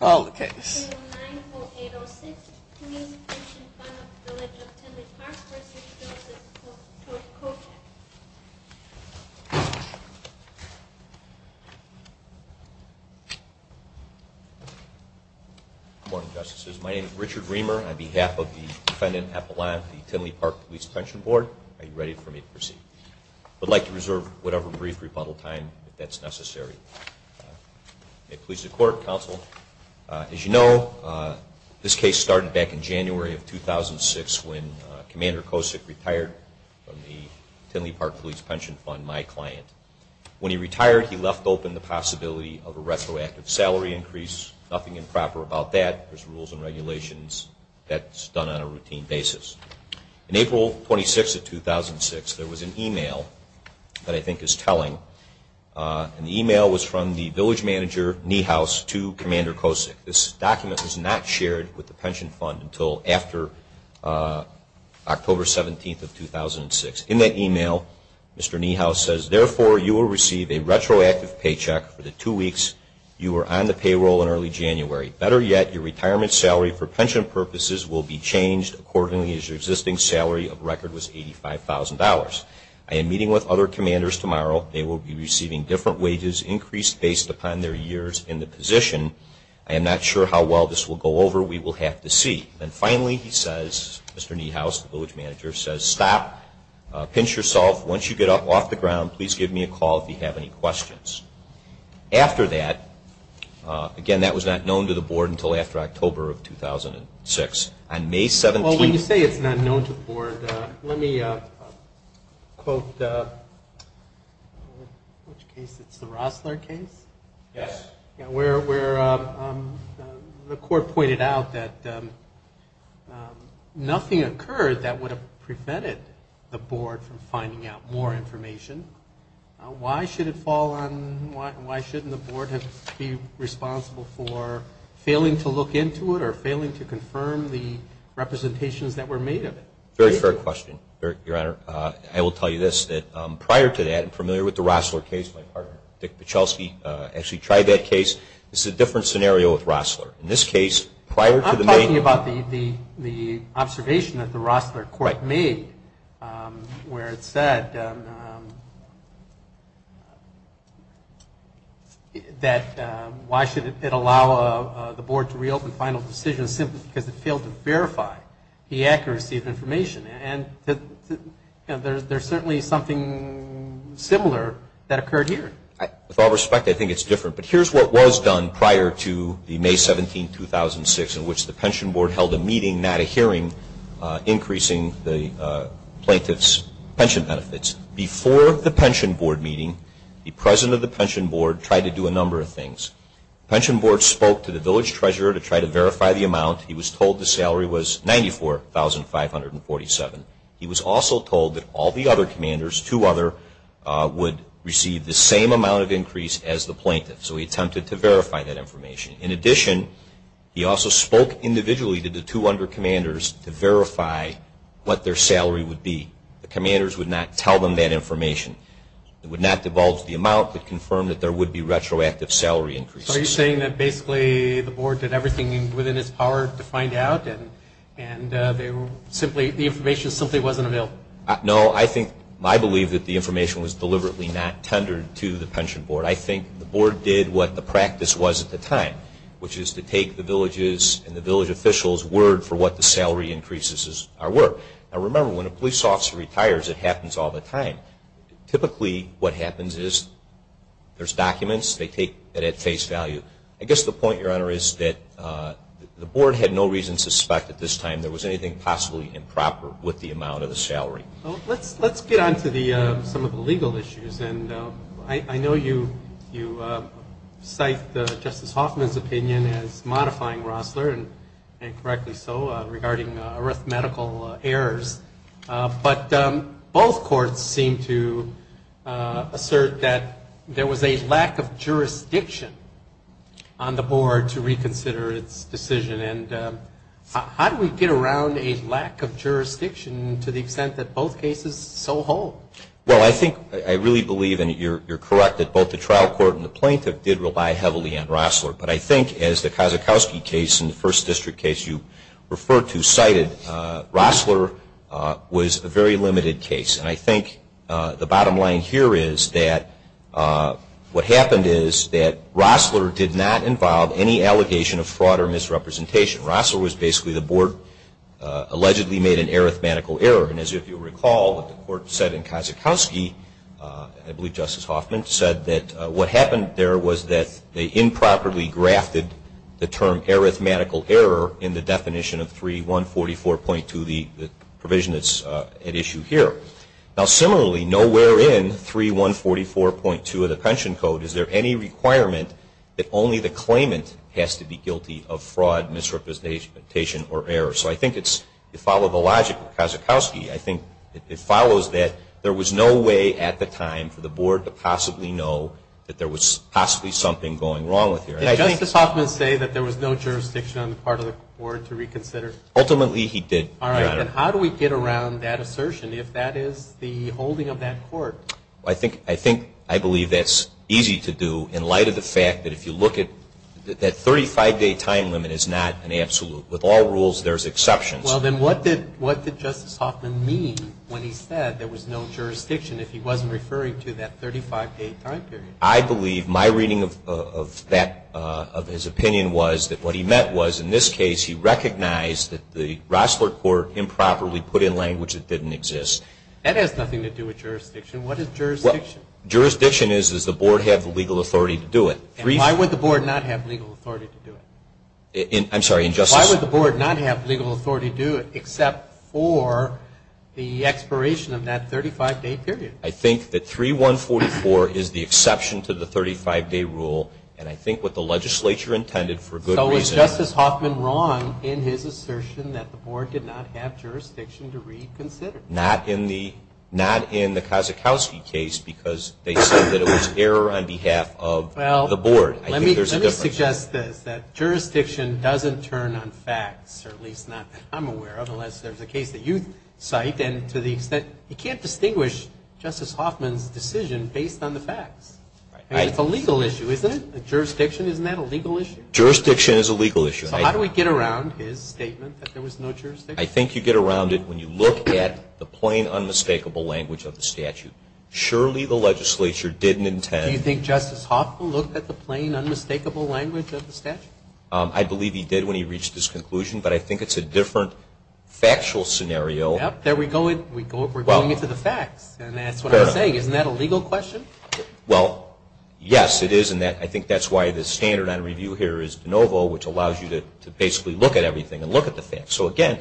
9.806 Police Pension Fund of the Village of Tinley Park v. Kocek Good morning, Justices. My name is Richard Reamer. On behalf of the Defendant Epeline of the Tinley Park Police Pension Board, are you ready for me to proceed? I'd like to reserve whatever brief rebuttal time that's necessary. May it please the Court, Counsel. As you know, this case started back in January of 2006 when Commander Kocek retired from the Tinley Park Police Pension Fund, my client. When he retired, he left open the possibility of a retroactive salary increase. Nothing improper about that. There's rules and regulations that's done on a routine basis. In April 26 of 2006, there was an email that I think is telling. The email was from the Village Manager, Niehaus, to Commander Kocek. This document was not shared with the pension fund until after October 17 of 2006. In that email, Mr. Niehaus says, Therefore, you will receive a retroactive paycheck for the two weeks you were on the payroll in early January. Better yet, your retirement salary for pension purposes will be changed accordingly as your existing salary of record was $85,000. I am meeting with other commanders tomorrow. They will be receiving different wages increased based upon their years in the position. I am not sure how well this will go over. We will have to see. Finally, Mr. Niehaus, the Village Manager, says, Stop. Pinch yourself. Once you get up off the ground, please give me a call if you have any questions. After that, again, that was not known to the Board until after October of 2006. On May 17th... Well, when you say it's not known to the Board, let me quote, in which case it's the Rossler case? Yes. Where the Court pointed out that nothing occurred that would have prevented the Board from finding out more information. Why shouldn't the Board be responsible for failing to look into it or failing to confirm the representations that were made of it? Very fair question, Your Honor. I will tell you this. Prior to that, I'm familiar with the Rossler case. My partner, Dick Pichelski, actually tried that case. This is a different scenario with Rossler. I'm talking about the observation that the Rossler Court made where it said that why should it allow the Board to reopen final decisions simply because it failed to verify the accuracy of information. There is certainly something similar that occurred here. With all respect, I think it's different, but here's what was done prior to May 17, 2006, in which the Pension Board held a meeting, not a hearing, increasing the plaintiff's pension benefits. Before the Pension Board meeting, the President of the Pension Board tried to do a number of things. The Pension Board spoke to the Village Treasurer to try to verify the amount. He was told the salary was $94,547. He was also told that all the other commanders, two other, would receive the same amount of increase as the plaintiff, so he attempted to verify that information. In addition, he also spoke individually to the two other commanders to verify what their salary would be. The commanders would not tell them that information. It would not divulge the amount, but confirm that there would be retroactive salary increases. So are you saying that basically the Board did everything within its power to find out and the information simply wasn't available? No, I believe that the information was deliberately not tendered to the Pension Board. I think the Board did what the practice was at the time, which is to take the villages and the village officials' word for what the salary increases were. Now remember, when a police officer retires, it happens all the time. Typically what happens is there's documents, they take it at face value. I guess the point, Your Honor, is that the Board had no reason to suspect at this time there was anything possibly improper with the amount of the salary. Let's get on to some of the legal issues. I know you cite Justice Hoffman's opinion as modifying Rossler, and correctly so, regarding arithmetical errors, but both courts seem to assert that there was a lack of jurisdiction on the Board to reconsider its decision. How do we get around a lack of jurisdiction to the extent that both cases are so whole? Well, I think I really believe, and you're correct, that both the trial court and the plaintiff did rely heavily on Rossler, but I think as the Kazakowski case and the First District case you referred to cited, Rossler was a very limited case. And I think the bottom line here is that what happened is that Rossler did not involve any allegation of fraud or misrepresentation. Rossler was basically the Board allegedly made an arithmetical error. And as you recall, what the court said in Kazakowski, I believe Justice Hoffman said that what happened there was that they improperly grafted the term arithmetical error in the definition of 3144.2, the provision that's at issue here. Now, similarly, nowhere in 3144.2 of the Pension Code is there any requirement that only the claimant has to be guilty of fraud, misrepresentation, or error. So I think it follows the logic of Kazakowski. I think it follows that there was no way at the time for the Board to possibly know that there was possibly something going wrong with the arithmetical error. Did Justice Hoffman say that there was no jurisdiction on the part of the Board to reconsider? All right. And how do we get around that assertion if that is the holding of that court? I think I believe that's easy to do in light of the fact that if you look at that 35-day time limit is not an absolute. With all rules, there's exceptions. Well, then what did Justice Hoffman mean when he said there was no jurisdiction if he wasn't referring to that 35-day time period? I believe my reading of his opinion was that what he meant was, in this case, he recognized that the Rossler Court improperly put in language that didn't exist. That has nothing to do with jurisdiction. What is jurisdiction? Jurisdiction is, does the Board have the legal authority to do it? And why would the Board not have legal authority to do it? I'm sorry, Justice? Why would the Board not have legal authority to do it except for the expiration of that 35-day period? I think that 3144 is the exception to the 35-day rule, and I think what the legislature intended for good reason. So was Justice Hoffman wrong in his assertion that the Board did not have jurisdiction to reconsider? Not in the Kazakowski case, because they said that it was error on behalf of the Board. Well, let me suggest this, that jurisdiction doesn't turn on facts, or at least not that I'm aware of, unless there's a case that you cite. And to the extent, you can't distinguish Justice Hoffman's decision based on the facts. And it's a legal issue, isn't it? Jurisdiction, isn't that a legal issue? Jurisdiction is a legal issue. So how do we get around his statement that there was no jurisdiction? I think you get around it when you look at the plain, unmistakable language of the statute. Surely the legislature didn't intend. Do you think Justice Hoffman looked at the plain, unmistakable language of the statute? I believe he did when he reached his conclusion, but I think it's a different factual scenario. There we go. We're going into the facts, and that's what I'm saying. Isn't that a legal question? Well, yes, it is, and I think that's why the standard on review here is de novo, which allows you to basically look at everything and look at the facts. So, again,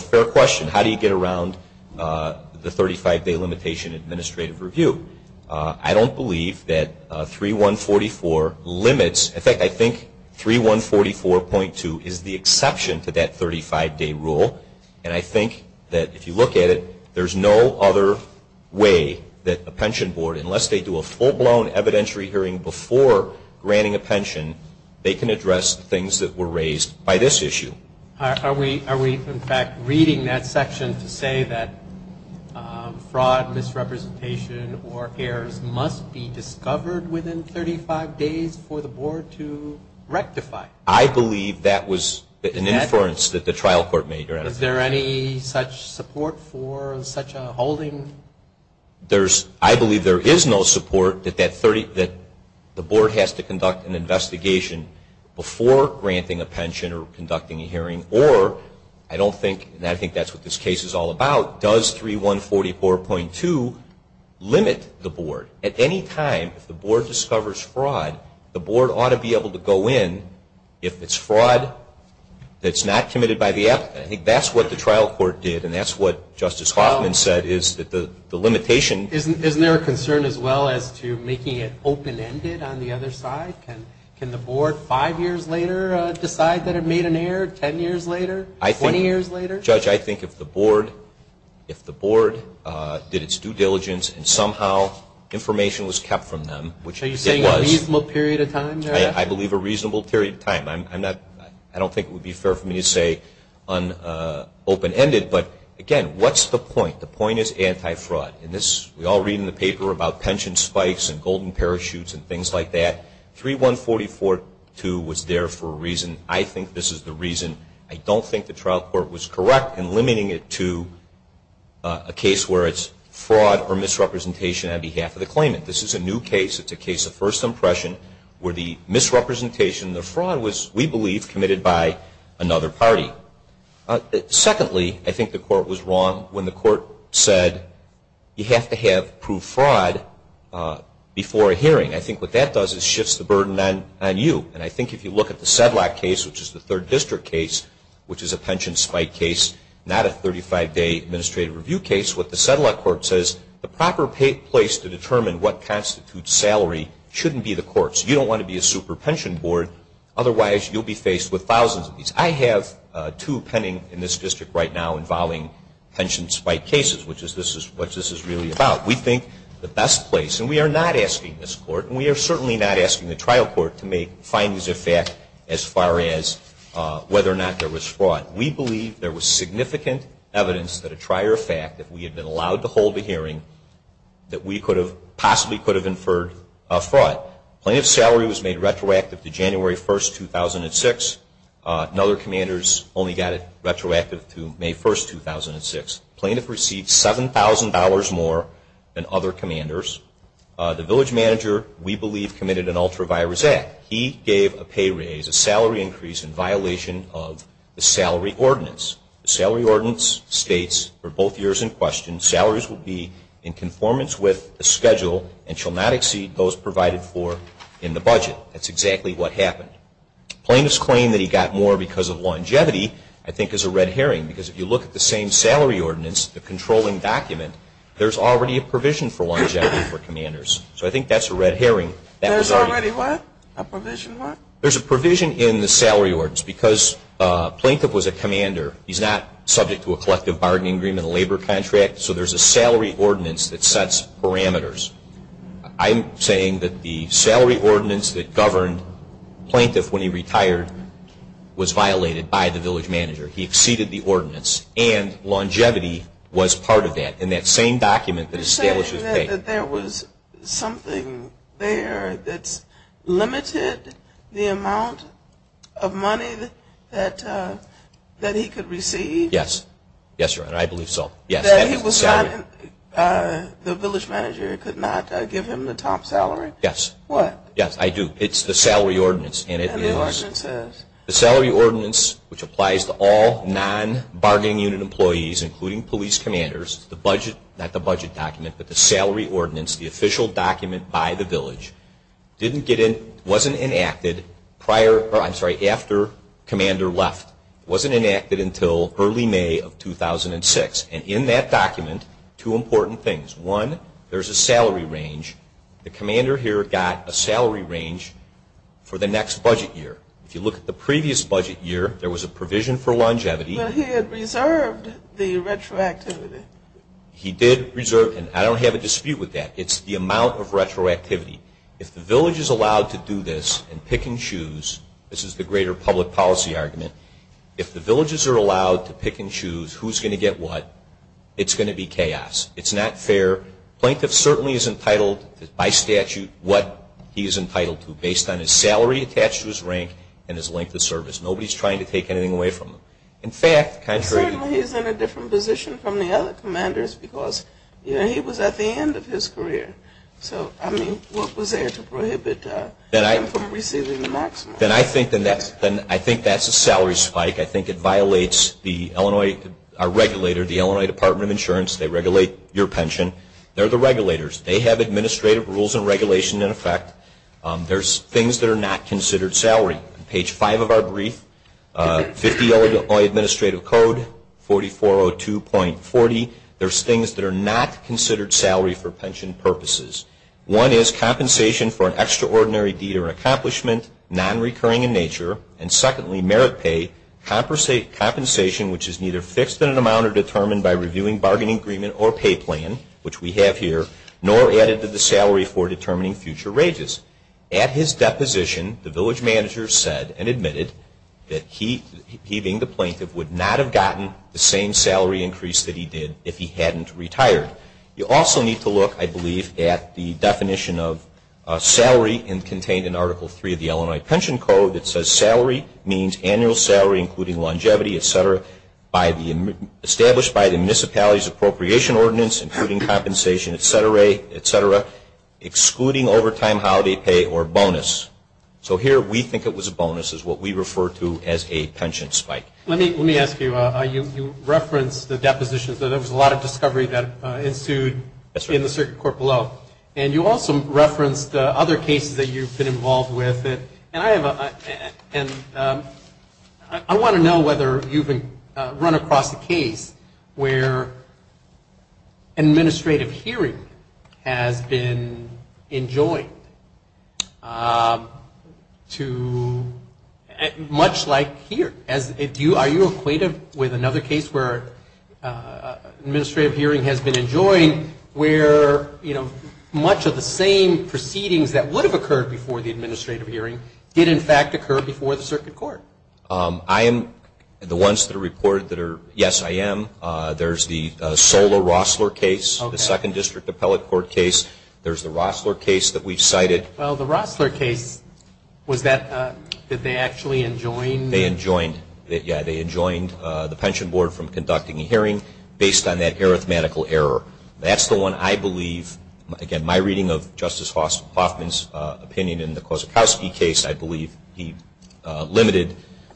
fair question. How do you get around the 35-day limitation in administrative review? I don't believe that 3144 limits. In fact, I think 3144.2 is the exception to that 35-day rule. And I think that if you look at it, there's no other way that a pension board, unless they do a full-blown evidentiary hearing before granting a pension, they can address things that were raised by this issue. Are we, in fact, reading that section to say that fraud, misrepresentation, or errors must be discovered within 35 days for the board to rectify? I believe that was an inference that the trial court made. Is there any such support for such a holding? I believe there is no support that the board has to conduct an investigation before granting a pension or conducting a hearing, or I don't think, and I think that's what this case is all about, does 3144.2 limit the board? At any time, if the board discovers fraud, the board ought to be able to go in. If it's fraud that's not committed by the applicant, I think that's what the trial court did, and that's what Justice Hoffman said is that the limitation. Isn't there a concern as well as to making it open-ended on the other side? Can the board, five years later, decide that it made an error, 10 years later, 20 years later? Judge, I think if the board did its due diligence and somehow information was kept from them, which it was. Are you saying a reasonable period of time? I believe a reasonable period of time. I don't think it would be fair for me to say open-ended, but again, what's the point? The point is anti-fraud. We all read in the paper about pension spikes and golden parachutes and things like that. 3144.2 was there for a reason. I think this is the reason. I don't think the trial court was correct in limiting it to a case where it's fraud or misrepresentation on behalf of the claimant. This is a new case. It's a case of first impression where the misrepresentation, the fraud, was, we believe, committed by another party. Secondly, I think the court was wrong when the court said you have to have proved fraud before a hearing. I think what that does is shifts the burden on you, and I think if you look at the Sedlak case, which is the third district case, which is a pension spike case, not a 35-day administrative review case, what the Sedlak court says, the proper place to determine what constitutes salary shouldn't be the courts. You don't want to be a super pension board. Otherwise, you'll be faced with thousands of these. I have two pending in this district right now involving pension spike cases, which is what this is really about. We think the best place, and we are not asking this court, and we are certainly not asking the trial court to make findings of fact as far as whether or not there was fraud. We believe there was significant evidence that a trier of fact, if we had been allowed to hold a hearing, that we possibly could have inferred fraud. Plaintiff's salary was made retroactive to January 1, 2006. Another commander's only got it retroactive to May 1, 2006. Plaintiff received $7,000 more than other commanders. The village manager, we believe, committed an ultravirus act. He gave a pay raise, a salary increase, in violation of the salary ordinance. The salary ordinance states, for both years in question, salaries will be in conformance with the schedule and shall not exceed those provided for in the budget. That's exactly what happened. Plaintiff's claim that he got more because of longevity, I think, is a red herring, because if you look at the same salary ordinance, the controlling document, there's already a provision for longevity for commanders. So I think that's a red herring. There's already what? A provision what? There's a provision in the salary ordinance because Plaintiff was a commander. He's not subject to a collective bargaining agreement, a labor contract, so there's a salary ordinance that sets parameters. I'm saying that the salary ordinance that governed Plaintiff when he retired was violated by the village manager. He exceeded the ordinance, and longevity was part of that, and that same document that establishes pay. You're saying that there was something there that's limited the amount of money that he could receive? Yes. Yes, Your Honor, I believe so. That he was not, the village manager could not give him the top salary? Yes. What? Yes, I do. It's the salary ordinance. The salary ordinance, which applies to all non-bargaining unit employees, including police commanders, the budget, not the budget document, but the salary ordinance, the official document by the village, didn't get in, wasn't enacted prior, I'm sorry, after commander left. It wasn't enacted until early May of 2006, and in that document, two important things. One, there's a salary range. The commander here got a salary range for the next budget year. If you look at the previous budget year, there was a provision for longevity. But he had reserved the retroactivity. He did reserve, and I don't have a dispute with that. It's the amount of retroactivity. If the village is allowed to do this and pick and choose, this is the greater public policy argument, if the villages are allowed to pick and choose who's going to get what, it's going to be chaos. It's not fair. Plaintiff certainly is entitled, by statute, what he's entitled to, based on his salary attached to his rank and his length of service. Nobody's trying to take anything away from him. In fact, contrary to... Certainly, he's in a different position from the other commanders, because he was at the end of his career. So, I mean, what was there to prohibit him from receiving the maximum? Then I think that's a salary spike. I think it violates the Illinois, our regulator, the Illinois Department of Insurance. They regulate your pension. They're the regulators. They have administrative rules and regulation in effect. There's things that are not considered salary. On page 5 of our brief, 50 Illinois Administrative Code, 4402.40, there's things that are not considered salary for pension purposes. One is compensation for an extraordinary deed or accomplishment, non-recurring in nature, and secondly, merit pay, compensation which is neither fixed in an amount or determined by reviewing bargaining agreement or pay plan, which we have here, nor added to the salary for determining future wages. At his deposition, the village manager said and admitted that he, being the plaintiff, would not have gotten the same salary increase that he did if he hadn't retired. You also need to look, I believe, at the definition of salary contained in Article III of the Illinois Pension Code. It says salary means annual salary including longevity, et cetera, established by the municipality's appropriation ordinance including compensation, et cetera, excluding overtime, holiday pay, or bonus. So here we think it was a bonus is what we refer to as a pension spike. Let me ask you, you referenced the depositions. There was a lot of discovery that ensued in the circuit court below. And you also referenced other cases that you've been involved with. And I want to know whether you've run across a case where administrative hearing has been enjoined to much like here. Are you equated with another case where administrative hearing has been enjoined where, you know, much of the same proceedings that would have occurred before the administrative hearing did, in fact, occur before the circuit court? I am the ones that are reported that are, yes, I am. There's the Sola-Rossler case, the Second District Appellate Court case. There's the Rossler case that we've cited. Well, the Rossler case, was that that they actually enjoined? They enjoined. Yeah, they enjoined the pension board from conducting a hearing based on that arithmetical error. That's the one I believe, again, my reading of Justice Hoffman's opinion in the Kozakowski case, I believe he limited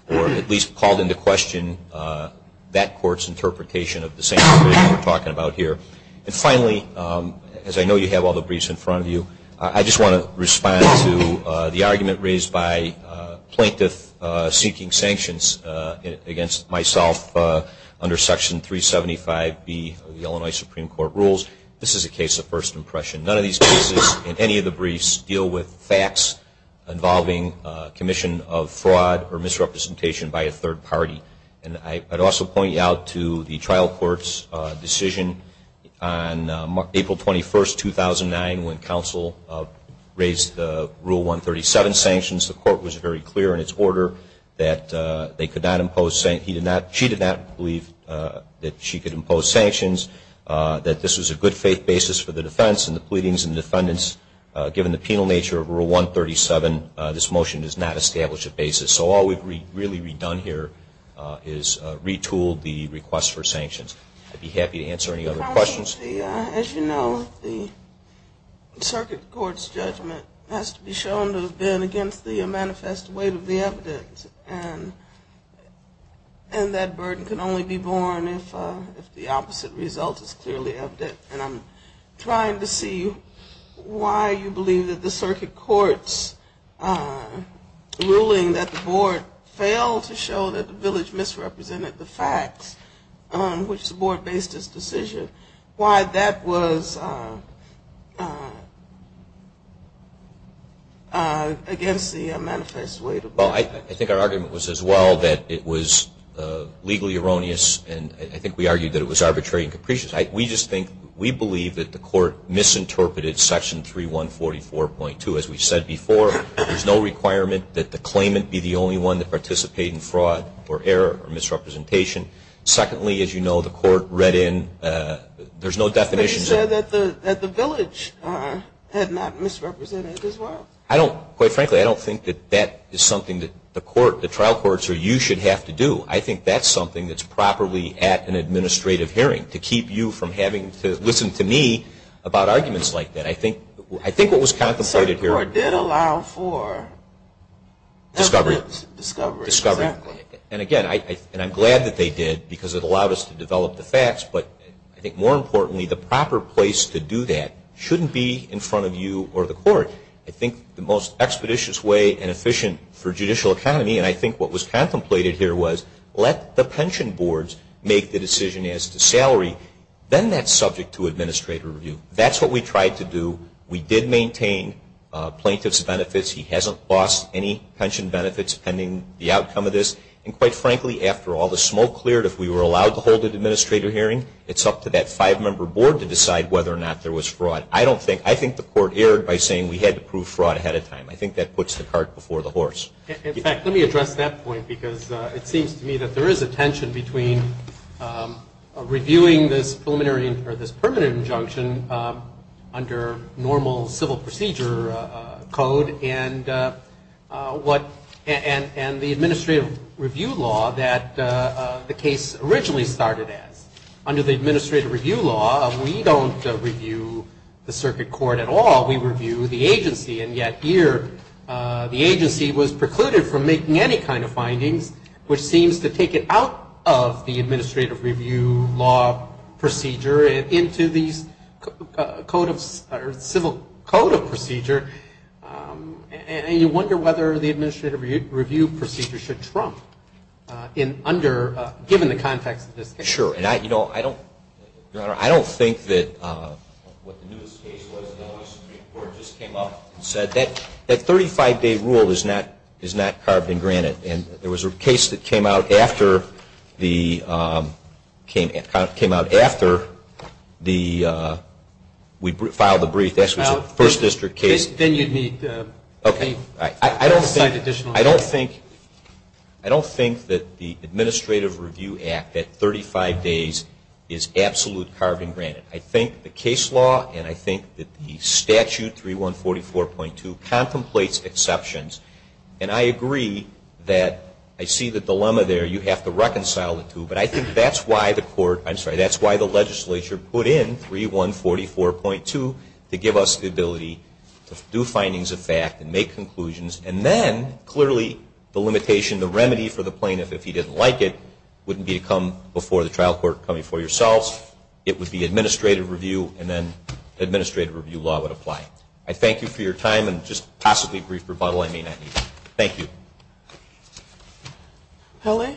or at least called into question that court's interpretation of the same thing we're talking about here. And finally, as I know you have all the briefs in front of you, I just want to respond to the argument raised by plaintiffs seeking sanctions against myself under Section 375B of the Illinois Supreme Court rules. This is a case of first impression. None of these cases in any of the briefs deal with facts involving commission of fraud or misrepresentation by a third party. And I'd also point you out to the trial court's decision on April 21, 2009, when counsel raised the Rule 137 sanctions. The court was very clear in its order that she did not believe that she could impose sanctions, that this was a good faith basis for the defense and the pleadings of the defendants. Given the penal nature of Rule 137, this motion does not establish a basis. So all we've really redone here is retooled the request for sanctions. I'd be happy to answer any other questions. As you know, the circuit court's judgment has to be shown to have been against the manifest weight of the evidence. And that burden can only be borne if the opposite result is clearly evident. And I'm trying to see why you believe that the circuit court's ruling that the board failed to show that the village misrepresented the facts which the board based its decision, why that was against the manifest weight of the evidence. Well, I think our argument was as well that it was legally erroneous, and I think we argued that it was arbitrary and capricious. We just think we believe that the court misinterpreted Section 3144.2. As we said before, there's no requirement that the claimant be the only one to participate in fraud or error or misrepresentation. Secondly, as you know, the court read in, there's no definition. But you said that the village had not misrepresented as well. I don't, quite frankly, I don't think that that is something that the trial courts or you should have to do. I think that's something that's properly at an administrative hearing to keep you from having to listen to me about arguments like that. I think what was contemplated here. The circuit court did allow for. Discovery. Discovery, exactly. And again, I'm glad that they did because it allowed us to develop the facts. But I think more importantly, the proper place to do that shouldn't be in front of you or the court. I think the most expeditious way and efficient for judicial economy, and I think what was contemplated here, was let the pension boards make the decision as to salary. Then that's subject to administrative review. That's what we tried to do. We did maintain plaintiff's benefits. He hasn't lost any pension benefits pending the outcome of this. And quite frankly, after all the smoke cleared, if we were allowed to hold an administrative hearing, it's up to that five-member board to decide whether or not there was fraud. I don't think, I think the court erred by saying we had to prove fraud ahead of time. I think that puts the cart before the horse. In fact, let me address that point because it seems to me that there is a tension between reviewing this preliminary or this permanent injunction under normal civil procedure code and the administrative review law that the case originally started as. Under the administrative review law, we don't review the circuit court at all. We review the agency. And yet here, the agency was precluded from making any kind of findings, which seems to take it out of the administrative review law procedure and into these code of, or civil code of procedure. And you wonder whether the administrative review procedure should trump in under, given the context of this case. Sure. And I, you know, I don't, Your Honor, I don't think that what the newest case was that the Supreme Court just came up and said that that 35-day rule is not carved in granite. And there was a case that came out after the, came out after the, we filed the brief. That was a First District case. Then you'd need to assign additional. I don't think, I don't think that the administrative review act at 35 days is absolute carved in granite. I think the case law and I think that the statute 3144.2 contemplates exceptions. And I agree that I see the dilemma there. You have to reconcile the two. But I think that's why the court, I'm sorry, that's why the legislature put in 3144.2 to give us the ability to do findings of fact and make conclusions. And then, clearly, the limitation, the remedy for the plaintiff, if he didn't like it, wouldn't be to come before the trial court, come before yourselves. It would be administrative review and then administrative review law would apply. I thank you for your time. And just possibly a brief rebuttal. I mean that. Thank you. L.A.?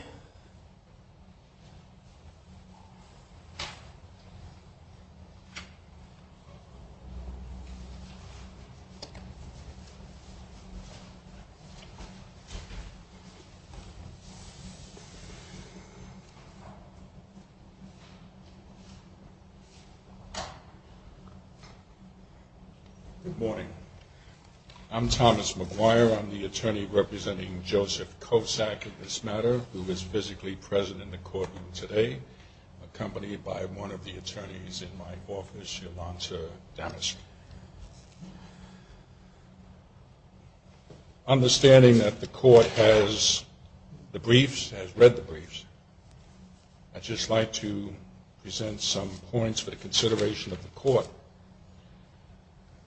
Good morning. I'm Thomas McGuire. I'm the attorney representing Joseph Kosack in this matter, who is physically present in the courtroom today, accompanied by one of the attorneys in my office, Yolanta Damisch. Understanding that the court has the briefs, has read the briefs, I'd just like to present some points for the consideration of the court.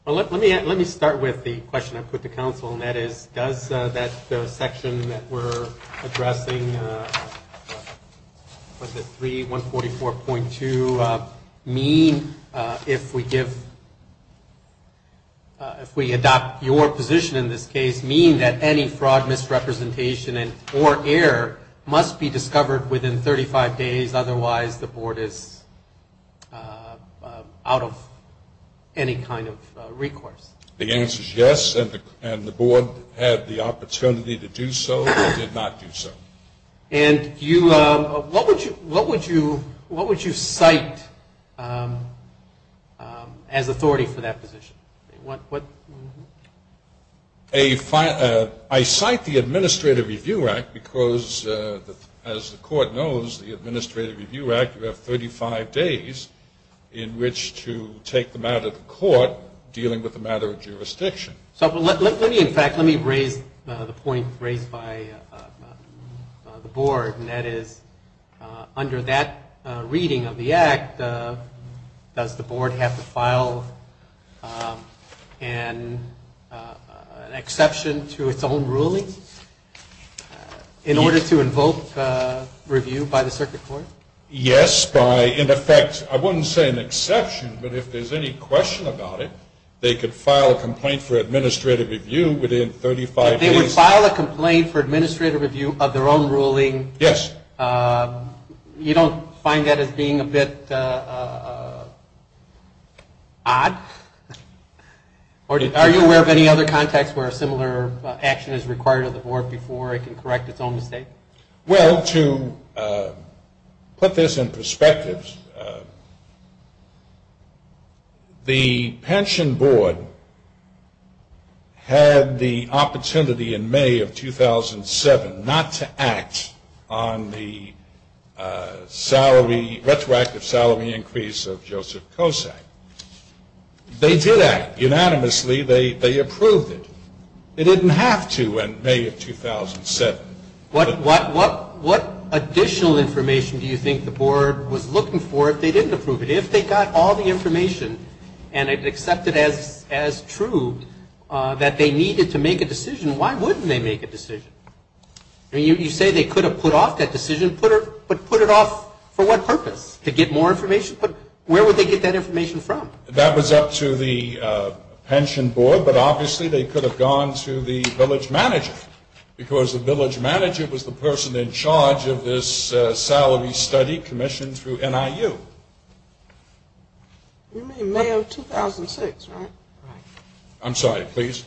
Let me start with the question I put to counsel, and that is does that section that we're addressing, 3144.2, mean if we adopt your position in this case, mean that any fraud misrepresentation or error must be discovered within 35 days, otherwise the board is out of any kind of recourse? The answer is yes, and the board had the opportunity to do so or did not do so. And what would you cite as authority for that position? I cite the Administrative Review Act because, as the court knows, the Administrative Review Act, you have 35 days in which to take them out of the court, dealing with the matter of jurisdiction. So let me, in fact, let me raise the point raised by the board, and that is under that reading of the act, does the board have to file an exception to its own ruling in order to invoke review by the circuit court? Yes, by, in effect, I wouldn't say an exception, but if there's any question about it, they could file a complaint for administrative review within 35 days. But they would file a complaint for administrative review of their own ruling? Yes. You don't find that as being a bit odd? Are you aware of any other context where a similar action is required of the board before it can correct its own mistake? Well, to put this in perspective, the pension board had the opportunity in May of 2007 not to act on the salary, retroactive salary increase of Joseph Kosak. They did act unanimously. They approved it. They didn't have to in May of 2007. What additional information do you think the board was looking for if they didn't approve it? If they got all the information and it accepted as true that they needed to make a decision, why wouldn't they make a decision? I mean, you say they could have put off that decision, but put it off for what purpose? To get more information? Where would they get that information from? That was up to the pension board, but obviously they could have gone to the village manager because the village manager was the person in charge of this salary study commissioned through NIU. You mean May of 2006, right? I'm sorry, please.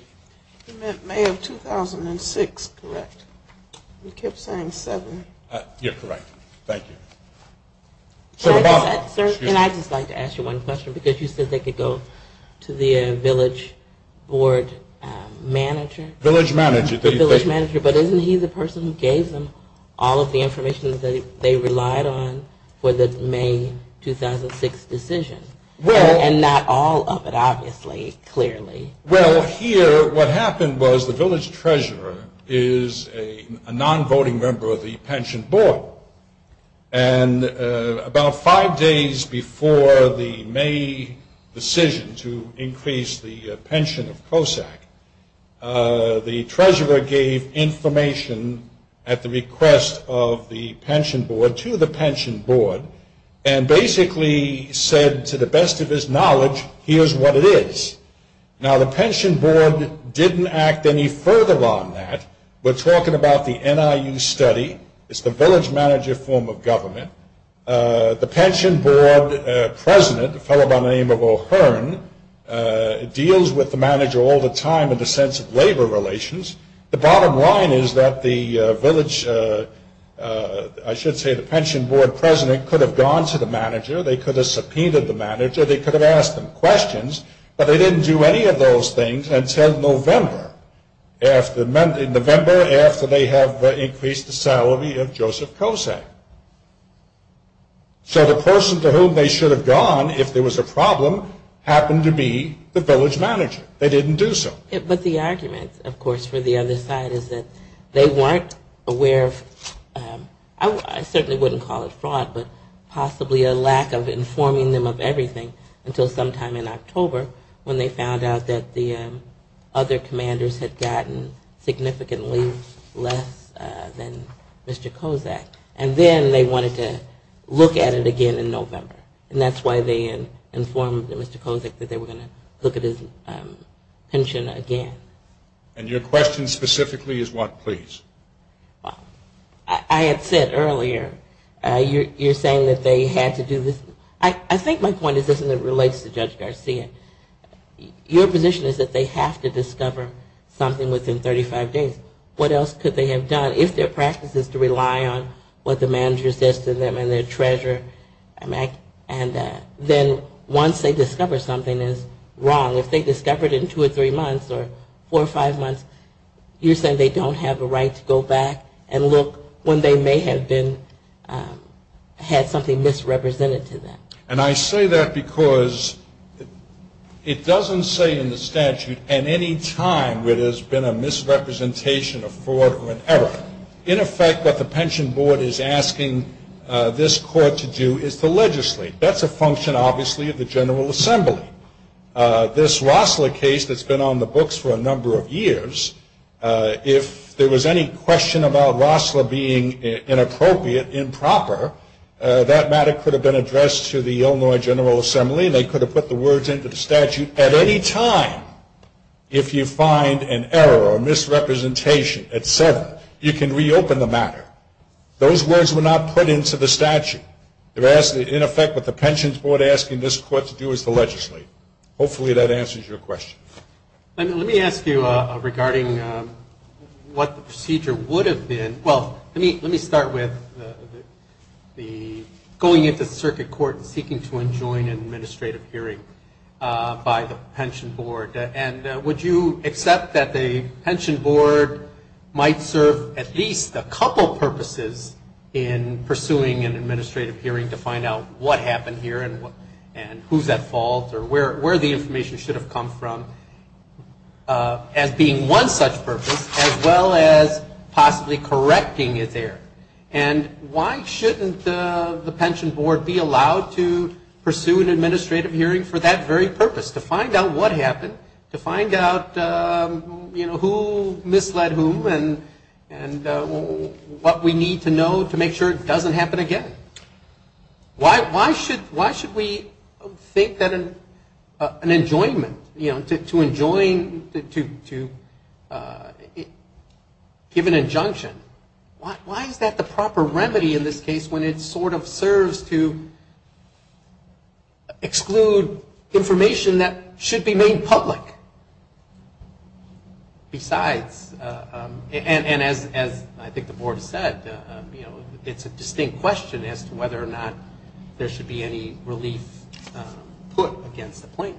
You meant May of 2006, correct? You kept saying 7. You're correct. Thank you. And I'd just like to ask you one question because you said they could go to the village board manager. Village manager. But isn't he the person who gave them all of the information that they relied on for the May 2006 decision? And not all of it, obviously, clearly. Well, here what happened was the village treasurer is a non-voting member of the pension board. And about five days before the May decision to increase the pension of COSAC, the treasurer gave information at the request of the pension board to the pension board and basically said to the best of his knowledge, here's what it is. Now, the pension board didn't act any further on that. We're talking about the NIU study. It's the village manager form of government. The pension board president, a fellow by the name of O'Hearn, deals with the manager all the time in the sense of labor relations. The bottom line is that the village, I should say the pension board president, could have gone to the manager. They could have subpoenaed the manager. They could have asked them questions. But they didn't do any of those things until November. November after they have increased the salary of Joseph COSAC. So the person to whom they should have gone if there was a problem happened to be the village manager. They didn't do so. But the argument, of course, for the other side is that they weren't aware of, I certainly wouldn't call it fraud, but possibly a lack of informing them of everything until sometime in October when they found out that the other commanders had gotten significantly less than Mr. COSAC. And then they wanted to look at it again in November. And that's why they informed Mr. COSAC that they were going to look at his pension again. And your question specifically is what, please? I had said earlier, you're saying that they had to do this. I think my point is this, and it relates to Judge Garcia. Your position is that they have to discover something within 35 days. What else could they have done? If their practice is to rely on what the manager says to them and their treasurer, then once they discover something is wrong. If they discover it in two or three months or four or five months, you're saying they don't have a right to go back and look when they may have been, had something misrepresented to them. And I say that because it doesn't say in the statute at any time where there's been a misrepresentation of fraud or an error. In effect, what the pension board is asking this court to do is to legislate. That's a function, obviously, of the General Assembly. This Rossler case that's been on the books for a number of years, if there was any question about Rossler being inappropriate, improper, that matter could have been addressed to the Illinois General Assembly and they could have put the words into the statute at any time. If you find an error or misrepresentation at seven, you can reopen the matter. Those words were not put into the statute. In effect, what the pensions board is asking this court to do is to legislate. Hopefully that answers your question. Let me ask you regarding what the procedure would have been. Well, let me start with going into the circuit court and seeking to enjoin an administrative hearing by the pension board. And would you accept that the pension board might serve at least a couple purposes in pursuing an administrative hearing to find out what happened here and who's at fault or where the information should have come from as being one such purpose, as well as possibly correcting it there? And why shouldn't the pension board be allowed to pursue an administrative hearing for that very purpose, to find out what happened, to find out, you know, who misled whom and what we need to know to make sure it doesn't happen again? Why should we think that an enjoinment, you know, to enjoin, to give an injunction, why is that the proper remedy in this case when it sort of serves to exclude information that should be made public? Besides, and as I think the board has said, you know, it's a distinct question as to whether or not there should be any relief put against the plan.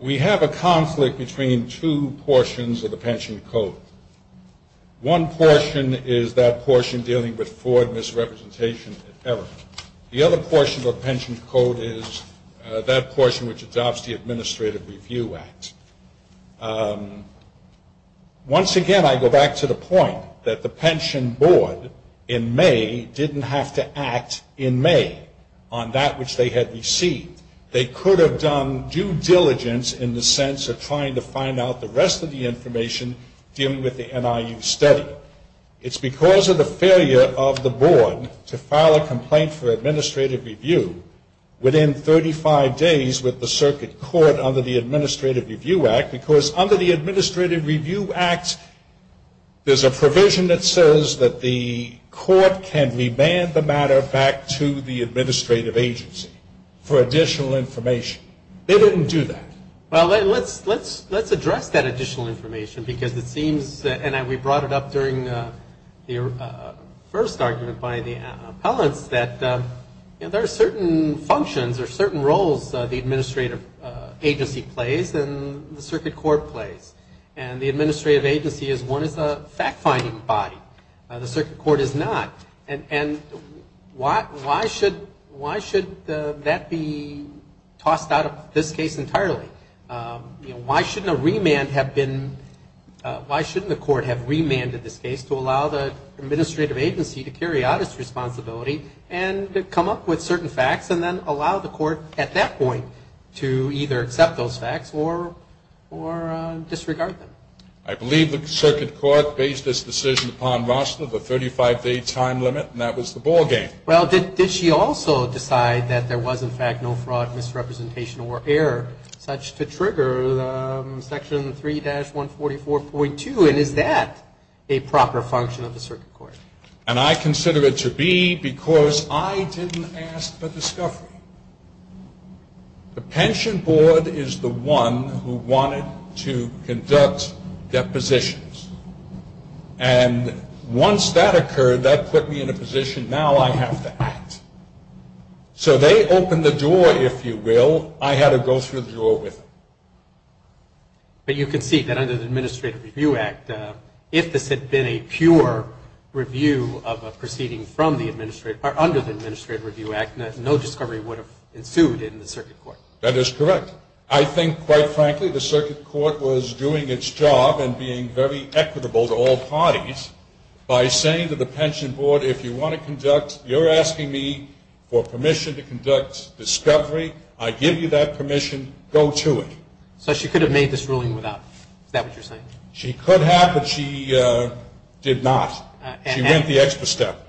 We have a conflict between two portions of the pension code. One portion is that portion dealing with fraud, misrepresentation, and error. The other portion of the pension code is that portion which adopts the Administrative Review Act. Once again, I go back to the point that the pension board in May didn't have to act in May on that which they had received. They could have done due diligence in the sense of trying to find out the rest of the information dealing with the NIU study. It's because of the failure of the board to file a complaint for administrative review within 35 days with the circuit court under the Administrative Review Act, because under the Administrative Review Act, there's a provision that says that the court can remand the matter back to the administrative agency. For additional information. They didn't do that. Well, let's address that additional information, because it seems, and we brought it up during the first argument by the appellants, that there are certain functions or certain roles the administrative agency plays and the circuit court plays. And the administrative agency is one of the fact-finding body. The circuit court is not. And why should that be tossed out of this case entirely? You know, why shouldn't a remand have been, why shouldn't the court have remanded this case to allow the administrative agency to carry out its responsibility and come up with certain facts and then allow the court at that point to either accept those facts or disregard them? I believe the circuit court based this decision upon Rosler, the 35-day time limit, and that was the ballgame. Well, did she also decide that there was, in fact, no fraud, misrepresentation, or error such to trigger Section 3-144.2? And is that a proper function of the circuit court? And I consider it to be because I didn't ask for discovery. The pension board is the one who wanted to conduct depositions. And once that occurred, that put me in a position, now I have to act. So they opened the door, if you will. I had to go through the door with them. But you can see that under the Administrative Review Act, if this had been a pure review of a proceeding from the administrative, or under the Administrative Review Act, no discovery would have ensued in the circuit court. That is correct. I think, quite frankly, the circuit court was doing its job and being very equitable to all parties by saying to the pension board, if you want to conduct, you're asking me for permission to conduct discovery. I give you that permission. Go to it. So she could have made this ruling without. Is that what you're saying? She could have, but she did not. She went the extra step.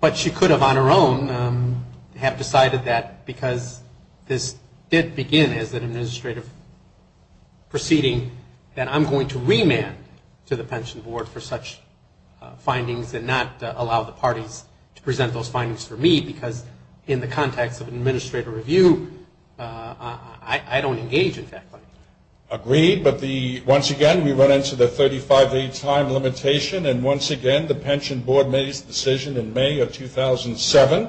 But she could have, on her own, have decided that because this did begin as an administrative proceeding, that I'm going to remand to the pension board for such findings and not allow the parties to present those findings for me, because in the context of an administrative review, I don't engage, in fact. Agreed. But once again, we run into the 35-day time limitation. And once again, the pension board made its decision in May of 2007.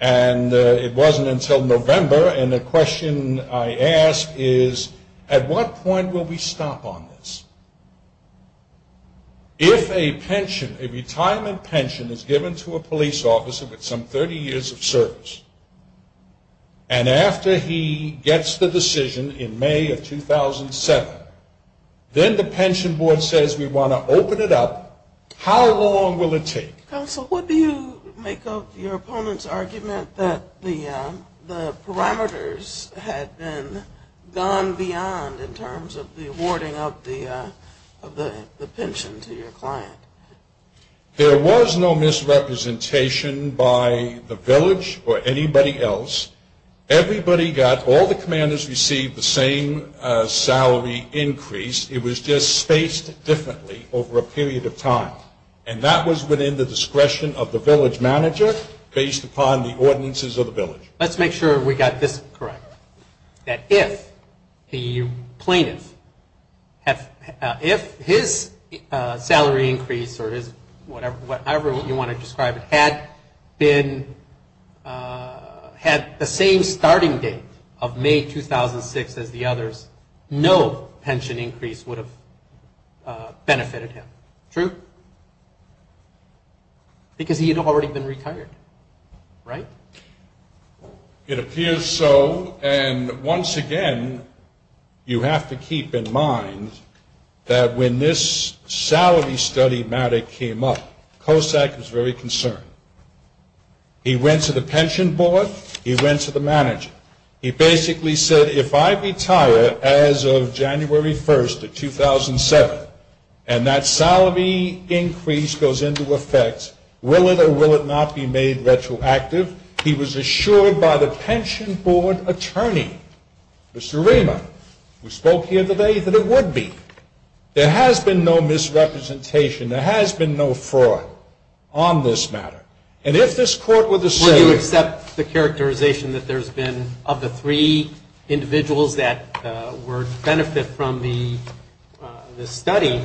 And it wasn't until November. And the question I ask is, at what point will we stop on this? If a pension, a retirement pension, is given to a police officer with some 30 years of service, and after he gets the decision in May of 2007, then the pension board says, we want to open it up, how long will it take? Counsel, what do you make of your opponent's argument that the parameters had been gone beyond in terms of the awarding of the pension to your client? There was no misrepresentation by the village or anybody else. Everybody got, all the commanders received the same salary increase. It was just spaced differently over a period of time. And that was within the discretion of the village manager based upon the ordinances of the village. Let's make sure we got this correct. That if the plaintiff, if his salary increase or his whatever you want to describe it, had been, had the same starting date of May 2006 as the others, no pension increase would have benefited him. True? Because he had already been retired. Right? It appears so. And once again, you have to keep in mind that when this salary study matter came up, Kosak was very concerned. He went to the pension board. He went to the manager. He basically said, if I retire as of January 1st of 2007, and that salary increase goes into effect, will it or will it not be made retroactive? He was assured by the pension board attorney, Mr. Rima, who spoke here today, that it would be. There has been no misrepresentation. There has been no fraud on this matter. And if this court were to say you accept the characterization that there's been, of the three individuals that were to benefit from the study,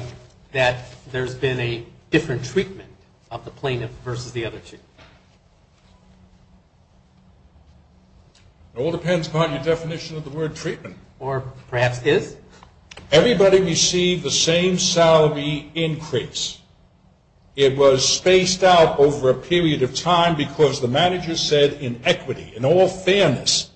that there's been a different treatment of the plaintiff versus the other two? It all depends upon your definition of the word treatment. Or perhaps is? Everybody received the same salary increase. It was spaced out over a period of time because the manager said in equity, in all fairness,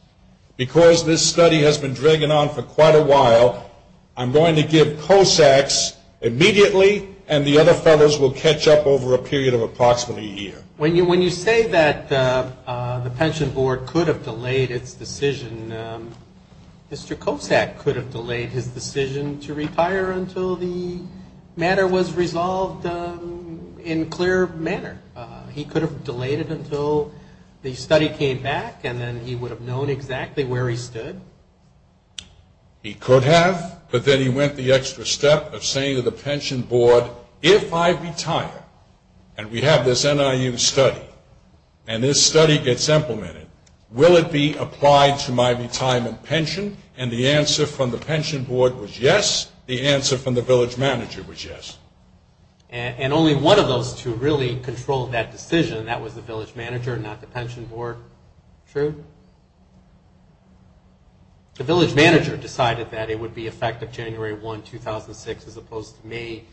because this study has been dragging on for quite a while, I'm going to give Kosak's immediately, and the other fellows will catch up over a period of approximately a year. When you say that the pension board could have delayed its decision, Mr. Kosak could have delayed his decision to retire until the matter was resolved in clear manner. He could have delayed it until the study came back, and then he would have known exactly where he stood. He could have, but then he went the extra step of saying to the pension board, if I retire and we have this NIU study, and this study gets implemented, will it be applied to my retirement pension? And the answer from the pension board was yes. The answer from the village manager was yes. And only one of those two really controlled that decision, and that was the village manager and not the pension board. True? The village manager decided that it would be effective January 1, 2006, as opposed to May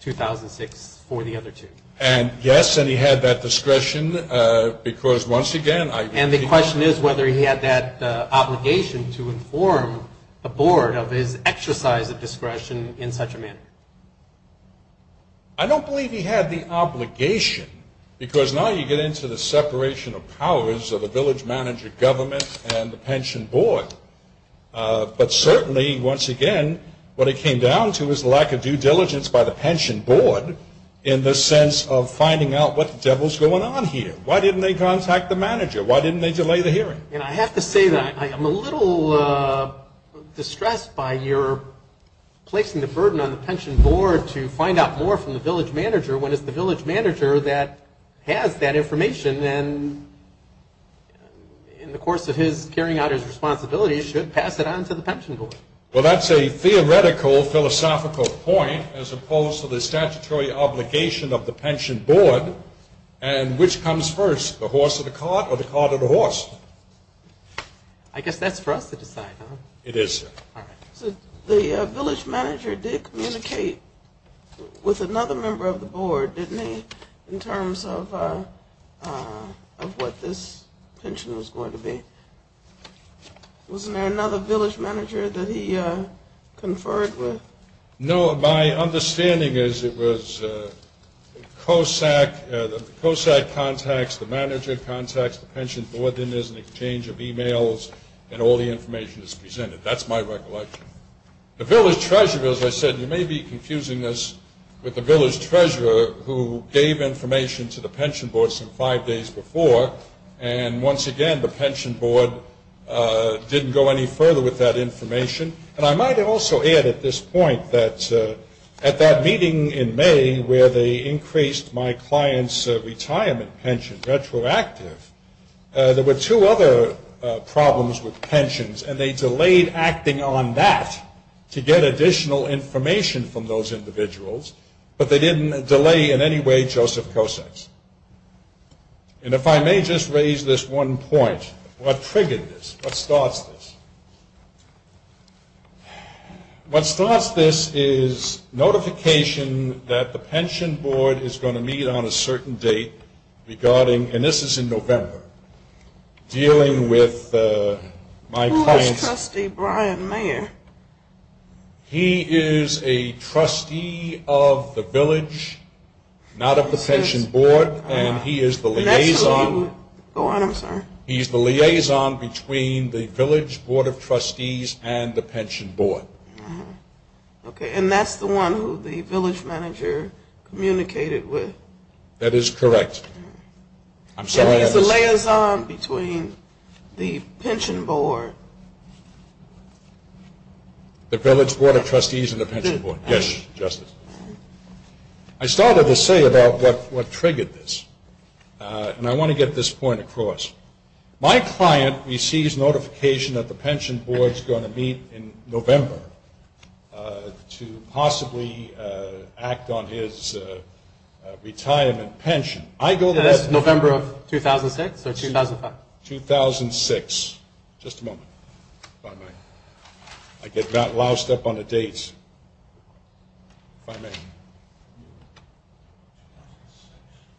2006 for the other two. And yes, and he had that discretion because, once again, And the question is whether he had that obligation to inform the board of his exercise of discretion in such a manner. I don't believe he had the obligation because now you get into the separation of powers of a village manager, government, and the pension board. But certainly, once again, what it came down to was the lack of due diligence by the pension board in the sense of finding out what the devil is going on here. Why didn't they contact the manager? Why didn't they delay the hearing? And I have to say that I am a little distressed by your placing the burden on the pension board to find out more from the village manager when it's the village manager that has that information and in the course of his carrying out his responsibilities should pass it on to the pension board. Well, that's a theoretical philosophical point as opposed to the statutory obligation of the pension board, and which comes first, the horse or the cart, or the cart or the horse? I guess that's for us to decide, huh? It is, sir. All right. So the village manager did communicate with another member of the board, didn't he, in terms of what this pension was going to be? Wasn't there another village manager that he conferred with? No. My understanding is it was COSAC. The COSAC contacts the manager, contacts the pension board. Then there's an exchange of e-mails, and all the information is presented. That's my recollection. The village treasurer, as I said, you may be confusing this with the village treasurer who gave information to the pension board some five days before, and once again, the pension board didn't go any further with that information. And I might also add at this point that at that meeting in May where they increased my client's retirement pension retroactive, there were two other problems with pensions, and they delayed acting on that to get additional information from those individuals, but they didn't delay in any way Joseph COSAC's. And if I may just raise this one point, what triggered this? What starts this? What starts this is notification that the pension board is going to meet on a certain date regarding, and this is in November, dealing with my client's. Who is trustee Brian Mayer? He is a trustee of the village, not of the pension board, and he is the liaison. He's the liaison between the village board of trustees and the pension board. And that's the one who the village manager communicated with? That is correct. I'm sorry. He's the liaison between the pension board. The village board of trustees and the pension board. Yes, Justice. I started to say about what triggered this, and I want to get this point across. My client receives notification that the pension board is going to meet in November to possibly act on his retirement pension. That is November of 2006 or 2005? 2006. Just a moment. If I may. I get loused up on the dates. If I may.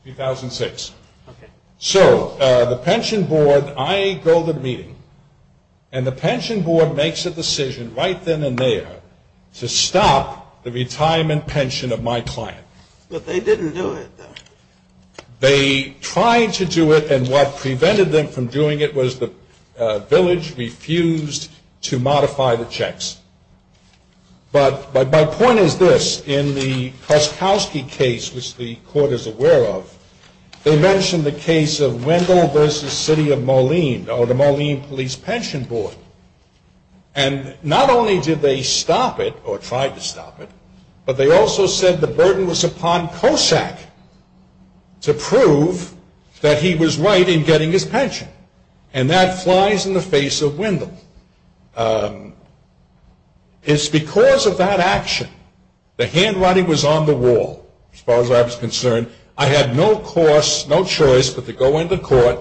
2006. Okay. So the pension board, I go to the meeting, and the pension board makes a decision right then and there to stop the retirement pension of my client. But they didn't do it, though. They tried to do it, and what prevented them from doing it was the village refused to modify the checks. But my point is this. In the Koskowski case, which the court is aware of, they mentioned the case of Wendell v. City of Moline, or the Moline Police Pension Board, and not only did they stop it or tried to stop it, but they also said the burden was upon Kosak to prove that he was right in getting his pension, and that flies in the face of Wendell. It's because of that action the handwriting was on the wall, as far as I was concerned. I had no choice but to go into court.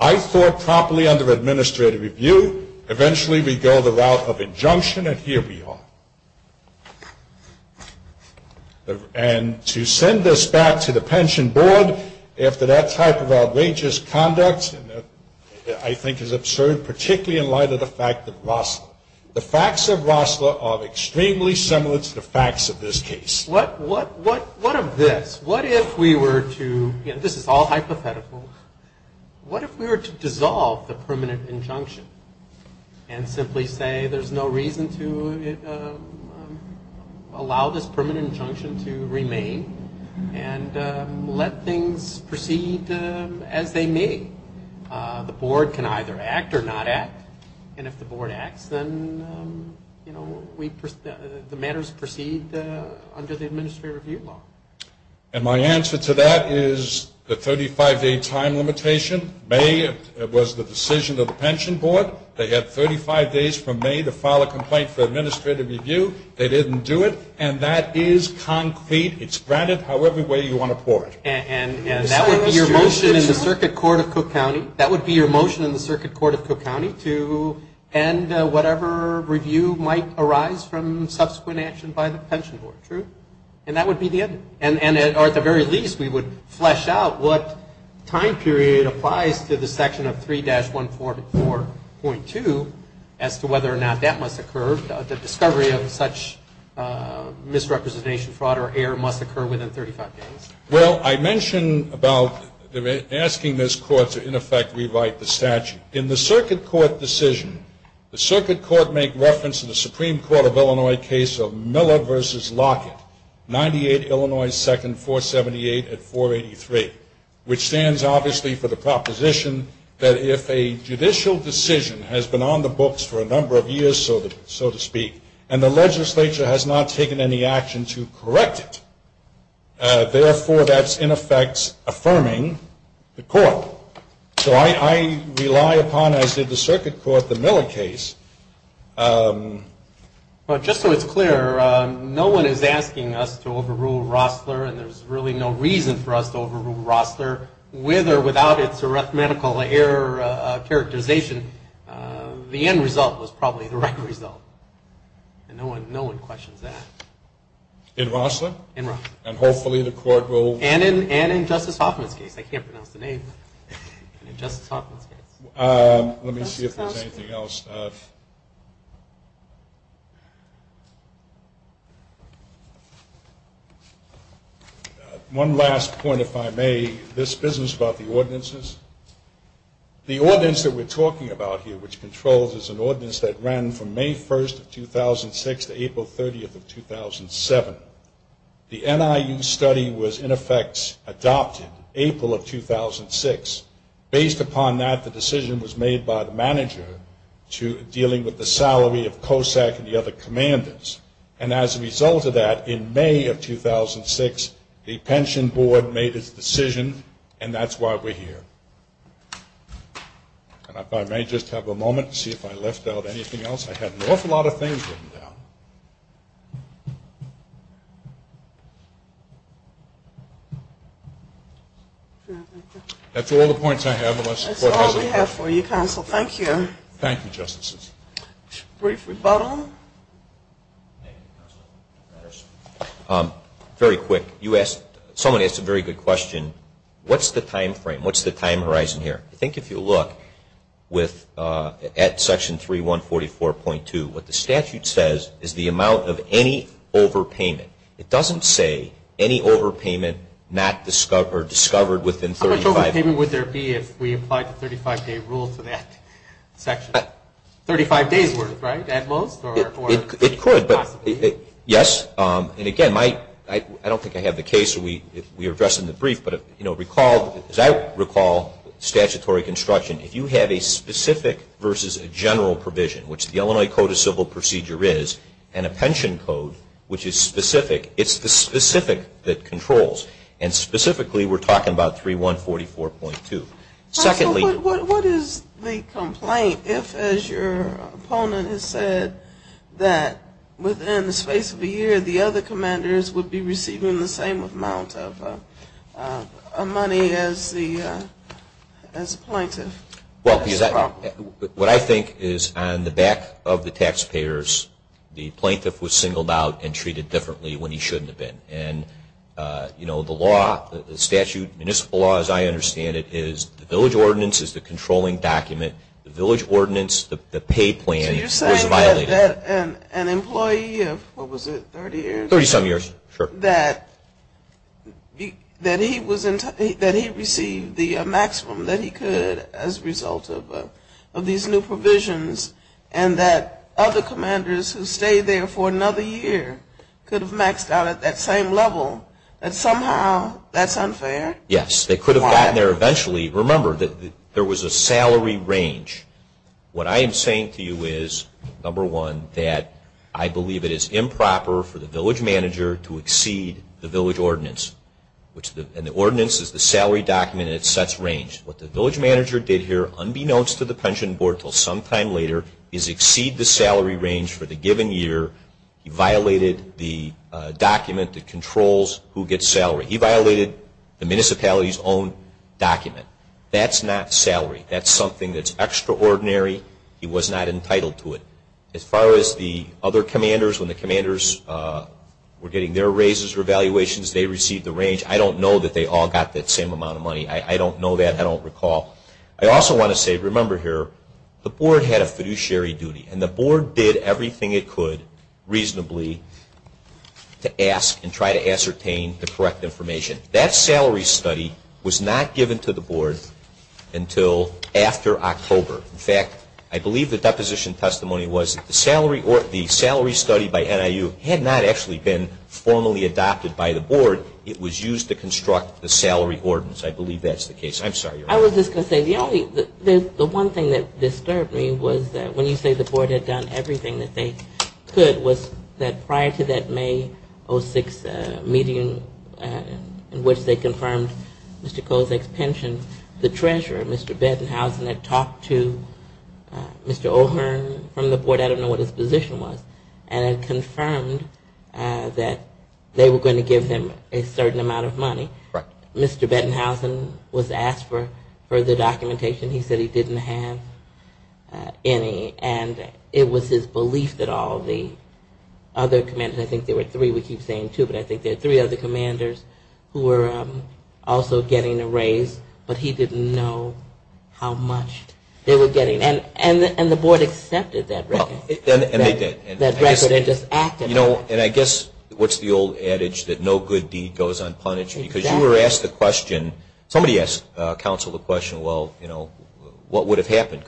I thought properly under administrative review. Eventually we go the route of injunction, and here we are. And to send this back to the pension board after that type of outrageous conduct I think is absurd, particularly in light of the fact that Rosler, the facts of Rosler are extremely similar to the facts of this case. What of this? What if we were to, this is all hypothetical, what if we were to dissolve the permanent injunction and simply say there's no reason to allow this permanent injunction to remain and let things proceed as they may? The board can either act or not act, and if the board acts then, you know, the matters proceed under the administrative review law. And my answer to that is the 35-day time limitation. May was the decision of the pension board. They had 35 days from May to file a complaint for administrative review. They didn't do it, and that is concrete. It's granted however way you want to pour it. And that would be your motion in the circuit court of Cook County, that would be your motion in the circuit court of Cook County to end whatever review might arise from subsequent action by the pension board, true? And that would be the end. Or at the very least we would flesh out what time period applies to the section of 3-144.2 as to whether or not that must occur, the discovery of such misrepresentation, fraud or error must occur within 35 days. Well, I mention about asking this court to in effect rewrite the statute. In the circuit court decision, the circuit court make reference to the Supreme Court of Illinois case of Miller v. Lockett, 98 Illinois 2nd 478 at 483, which stands obviously for the proposition that if a judicial decision has been on the books for a number of years so to speak and the legislature has not taken any action to correct it, therefore that's in effect affirming the court. So I rely upon as did the circuit court the Miller case. Well, just so it's clear, no one is asking us to overrule Rossler and there's really no reason for us to overrule Rossler with or without its arithmetical error characterization. The end result was probably the right result. And no one questions that. In Rossler? In Rossler. And hopefully the court will... And in Justice Hoffman's case. I can't pronounce the name. In Justice Hoffman's case. Let me see if there's anything else. One last point if I may. This business about the ordinances. The ordinance that we're talking about here which controls is an ordinance that ran from May 1st of 2006 to April 30th of 2007. The NIU study was in effect adopted April of 2006. Based upon that, the decision was made by the manager to dealing with the salary of COSAC and the other commanders. And as a result of that, in May of 2006, the pension board made its decision and that's why we're here. And if I may just have a moment to see if I left out anything else. I have an awful lot of things written down. That's all the points I have unless the court has any questions. That's all we have for you, counsel. Thank you. Thank you, Justices. Brief rebuttal. Very quick. You asked... Someone asked a very good question. What's the time frame? What's the time horizon here? I think if you look at Section 3144.2, what the statute says is the amount of any overpayment. It doesn't say any overpayment not discovered within 35 days. How much overpayment would there be if we applied the 35-day rule to that section? 35 days worth, right? At most? It could. Yes. And again, I don't think I have the case. We addressed in the brief. But as I recall statutory construction, if you have a specific versus a general provision, which the Illinois Code of Civil Procedure is, and a pension code, which is specific, it's the specific that controls. And specifically, we're talking about 3144.2. What is the complaint if, as your opponent has said, that within the space of a year, the other commanders would be receiving the same amount of money as the plaintiff? Well, what I think is on the back of the taxpayers, the plaintiff was singled out and treated differently when he shouldn't have been. And the law, the statute, municipal law as I understand it, is the village ordinance is the controlling document. The village ordinance, the pay plan, was violated. An employee of, what was it, 30 years? Thirty-some years. That he received the maximum that he could as a result of these new provisions and that other commanders who stayed there for another year could have maxed out at that same level, that somehow that's unfair? Yes. They could have gotten there eventually. Remember, there was a salary range. What I am saying to you is, number one, that I believe it is improper for the village manager to exceed the village ordinance. And the ordinance is the salary document and it sets range. What the village manager did here, unbeknownst to the pension board until sometime later, is exceed the salary range for the given year. He violated the document that controls who gets salary. He violated the municipality's own document. That's not salary. That's something that's extraordinary. He was not entitled to it. As far as the other commanders, when the commanders were getting their raises or evaluations, they received the range. I don't know that they all got that same amount of money. I don't know that. I don't recall. I also want to say, remember here, the board had a fiduciary duty and the board did everything it could reasonably to ask and try to ascertain the correct information. That salary study was not given to the board until after October. In fact, I believe the deposition testimony was that the salary study by NIU had not actually been formally adopted by the board. It was used to construct the salary ordinance. I believe that's the case. I'm sorry, Your Honor. I was just going to say, the one thing that disturbed me was that when you say the board had done everything that they could, it was that prior to that May 06 meeting in which they confirmed Mr. Kozak's pension, the treasurer, Mr. Bettenhausen, had talked to Mr. O'Hearn from the board. I don't know what his position was. And it confirmed that they were going to give him a certain amount of money. Mr. Bettenhausen was asked for further documentation. He said he didn't have any. And it was his belief that all the other commanders, I think there were three, we keep saying two, but I think there were three other commanders who were also getting a raise, but he didn't know how much they were getting. And the board accepted that record. And they did. And just acted on it. And I guess what's the old adage that no good deed goes unpunished? Exactly. Because you were asked the question, somebody asked counsel the question, well, you know, what would have happened?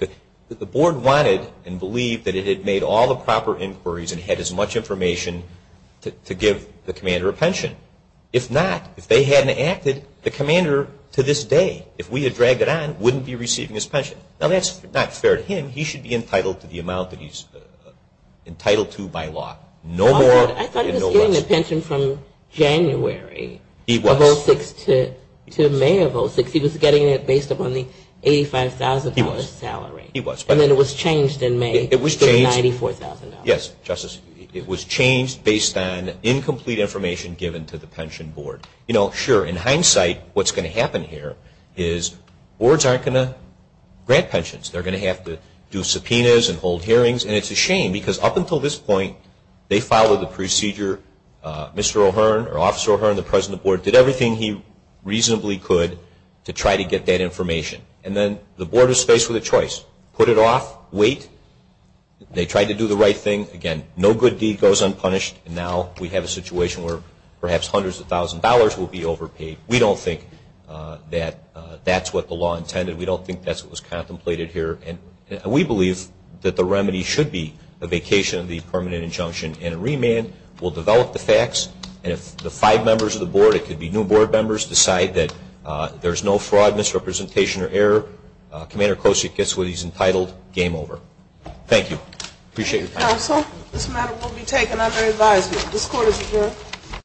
The board wanted and believed that it had made all the proper inquiries and had as much information to give the commander a pension. If not, if they hadn't acted, the commander to this day, if we had dragged it on, wouldn't be receiving his pension. Now, that's not fair to him. He should be entitled to the amount that he's entitled to by law. No more and no less. I thought he was getting a pension from January of 06 to May of 06. He was getting it based upon the $85,000 salary. He was. And then it was changed in May to the $94,000. Yes, Justice. It was changed based on incomplete information given to the pension board. You know, sure, in hindsight, what's going to happen here is boards aren't going to grant pensions. They're going to have to do subpoenas and hold hearings. And it's a shame because up until this point, they followed the procedure. Mr. O'Hearn or Officer O'Hearn, the president of the board, did everything he reasonably could to try to get that information. And then the board is faced with a choice. Put it off. Wait. They tried to do the right thing. Again, no good deed goes unpunished. And now we have a situation where perhaps hundreds of thousands of dollars will be overpaid. We don't think that that's what the law intended. We don't think that's what was contemplated here. And we believe that the remedy should be a vacation of the permanent injunction and a remand. We'll develop the facts. And if the five members of the board, it could be new board members, decide that there's no fraud, misrepresentation, or error, Commander Klosik gets what he's entitled, game over. Thank you. Appreciate your time. Counsel, this matter will be taken under advisement. This court is adjourned.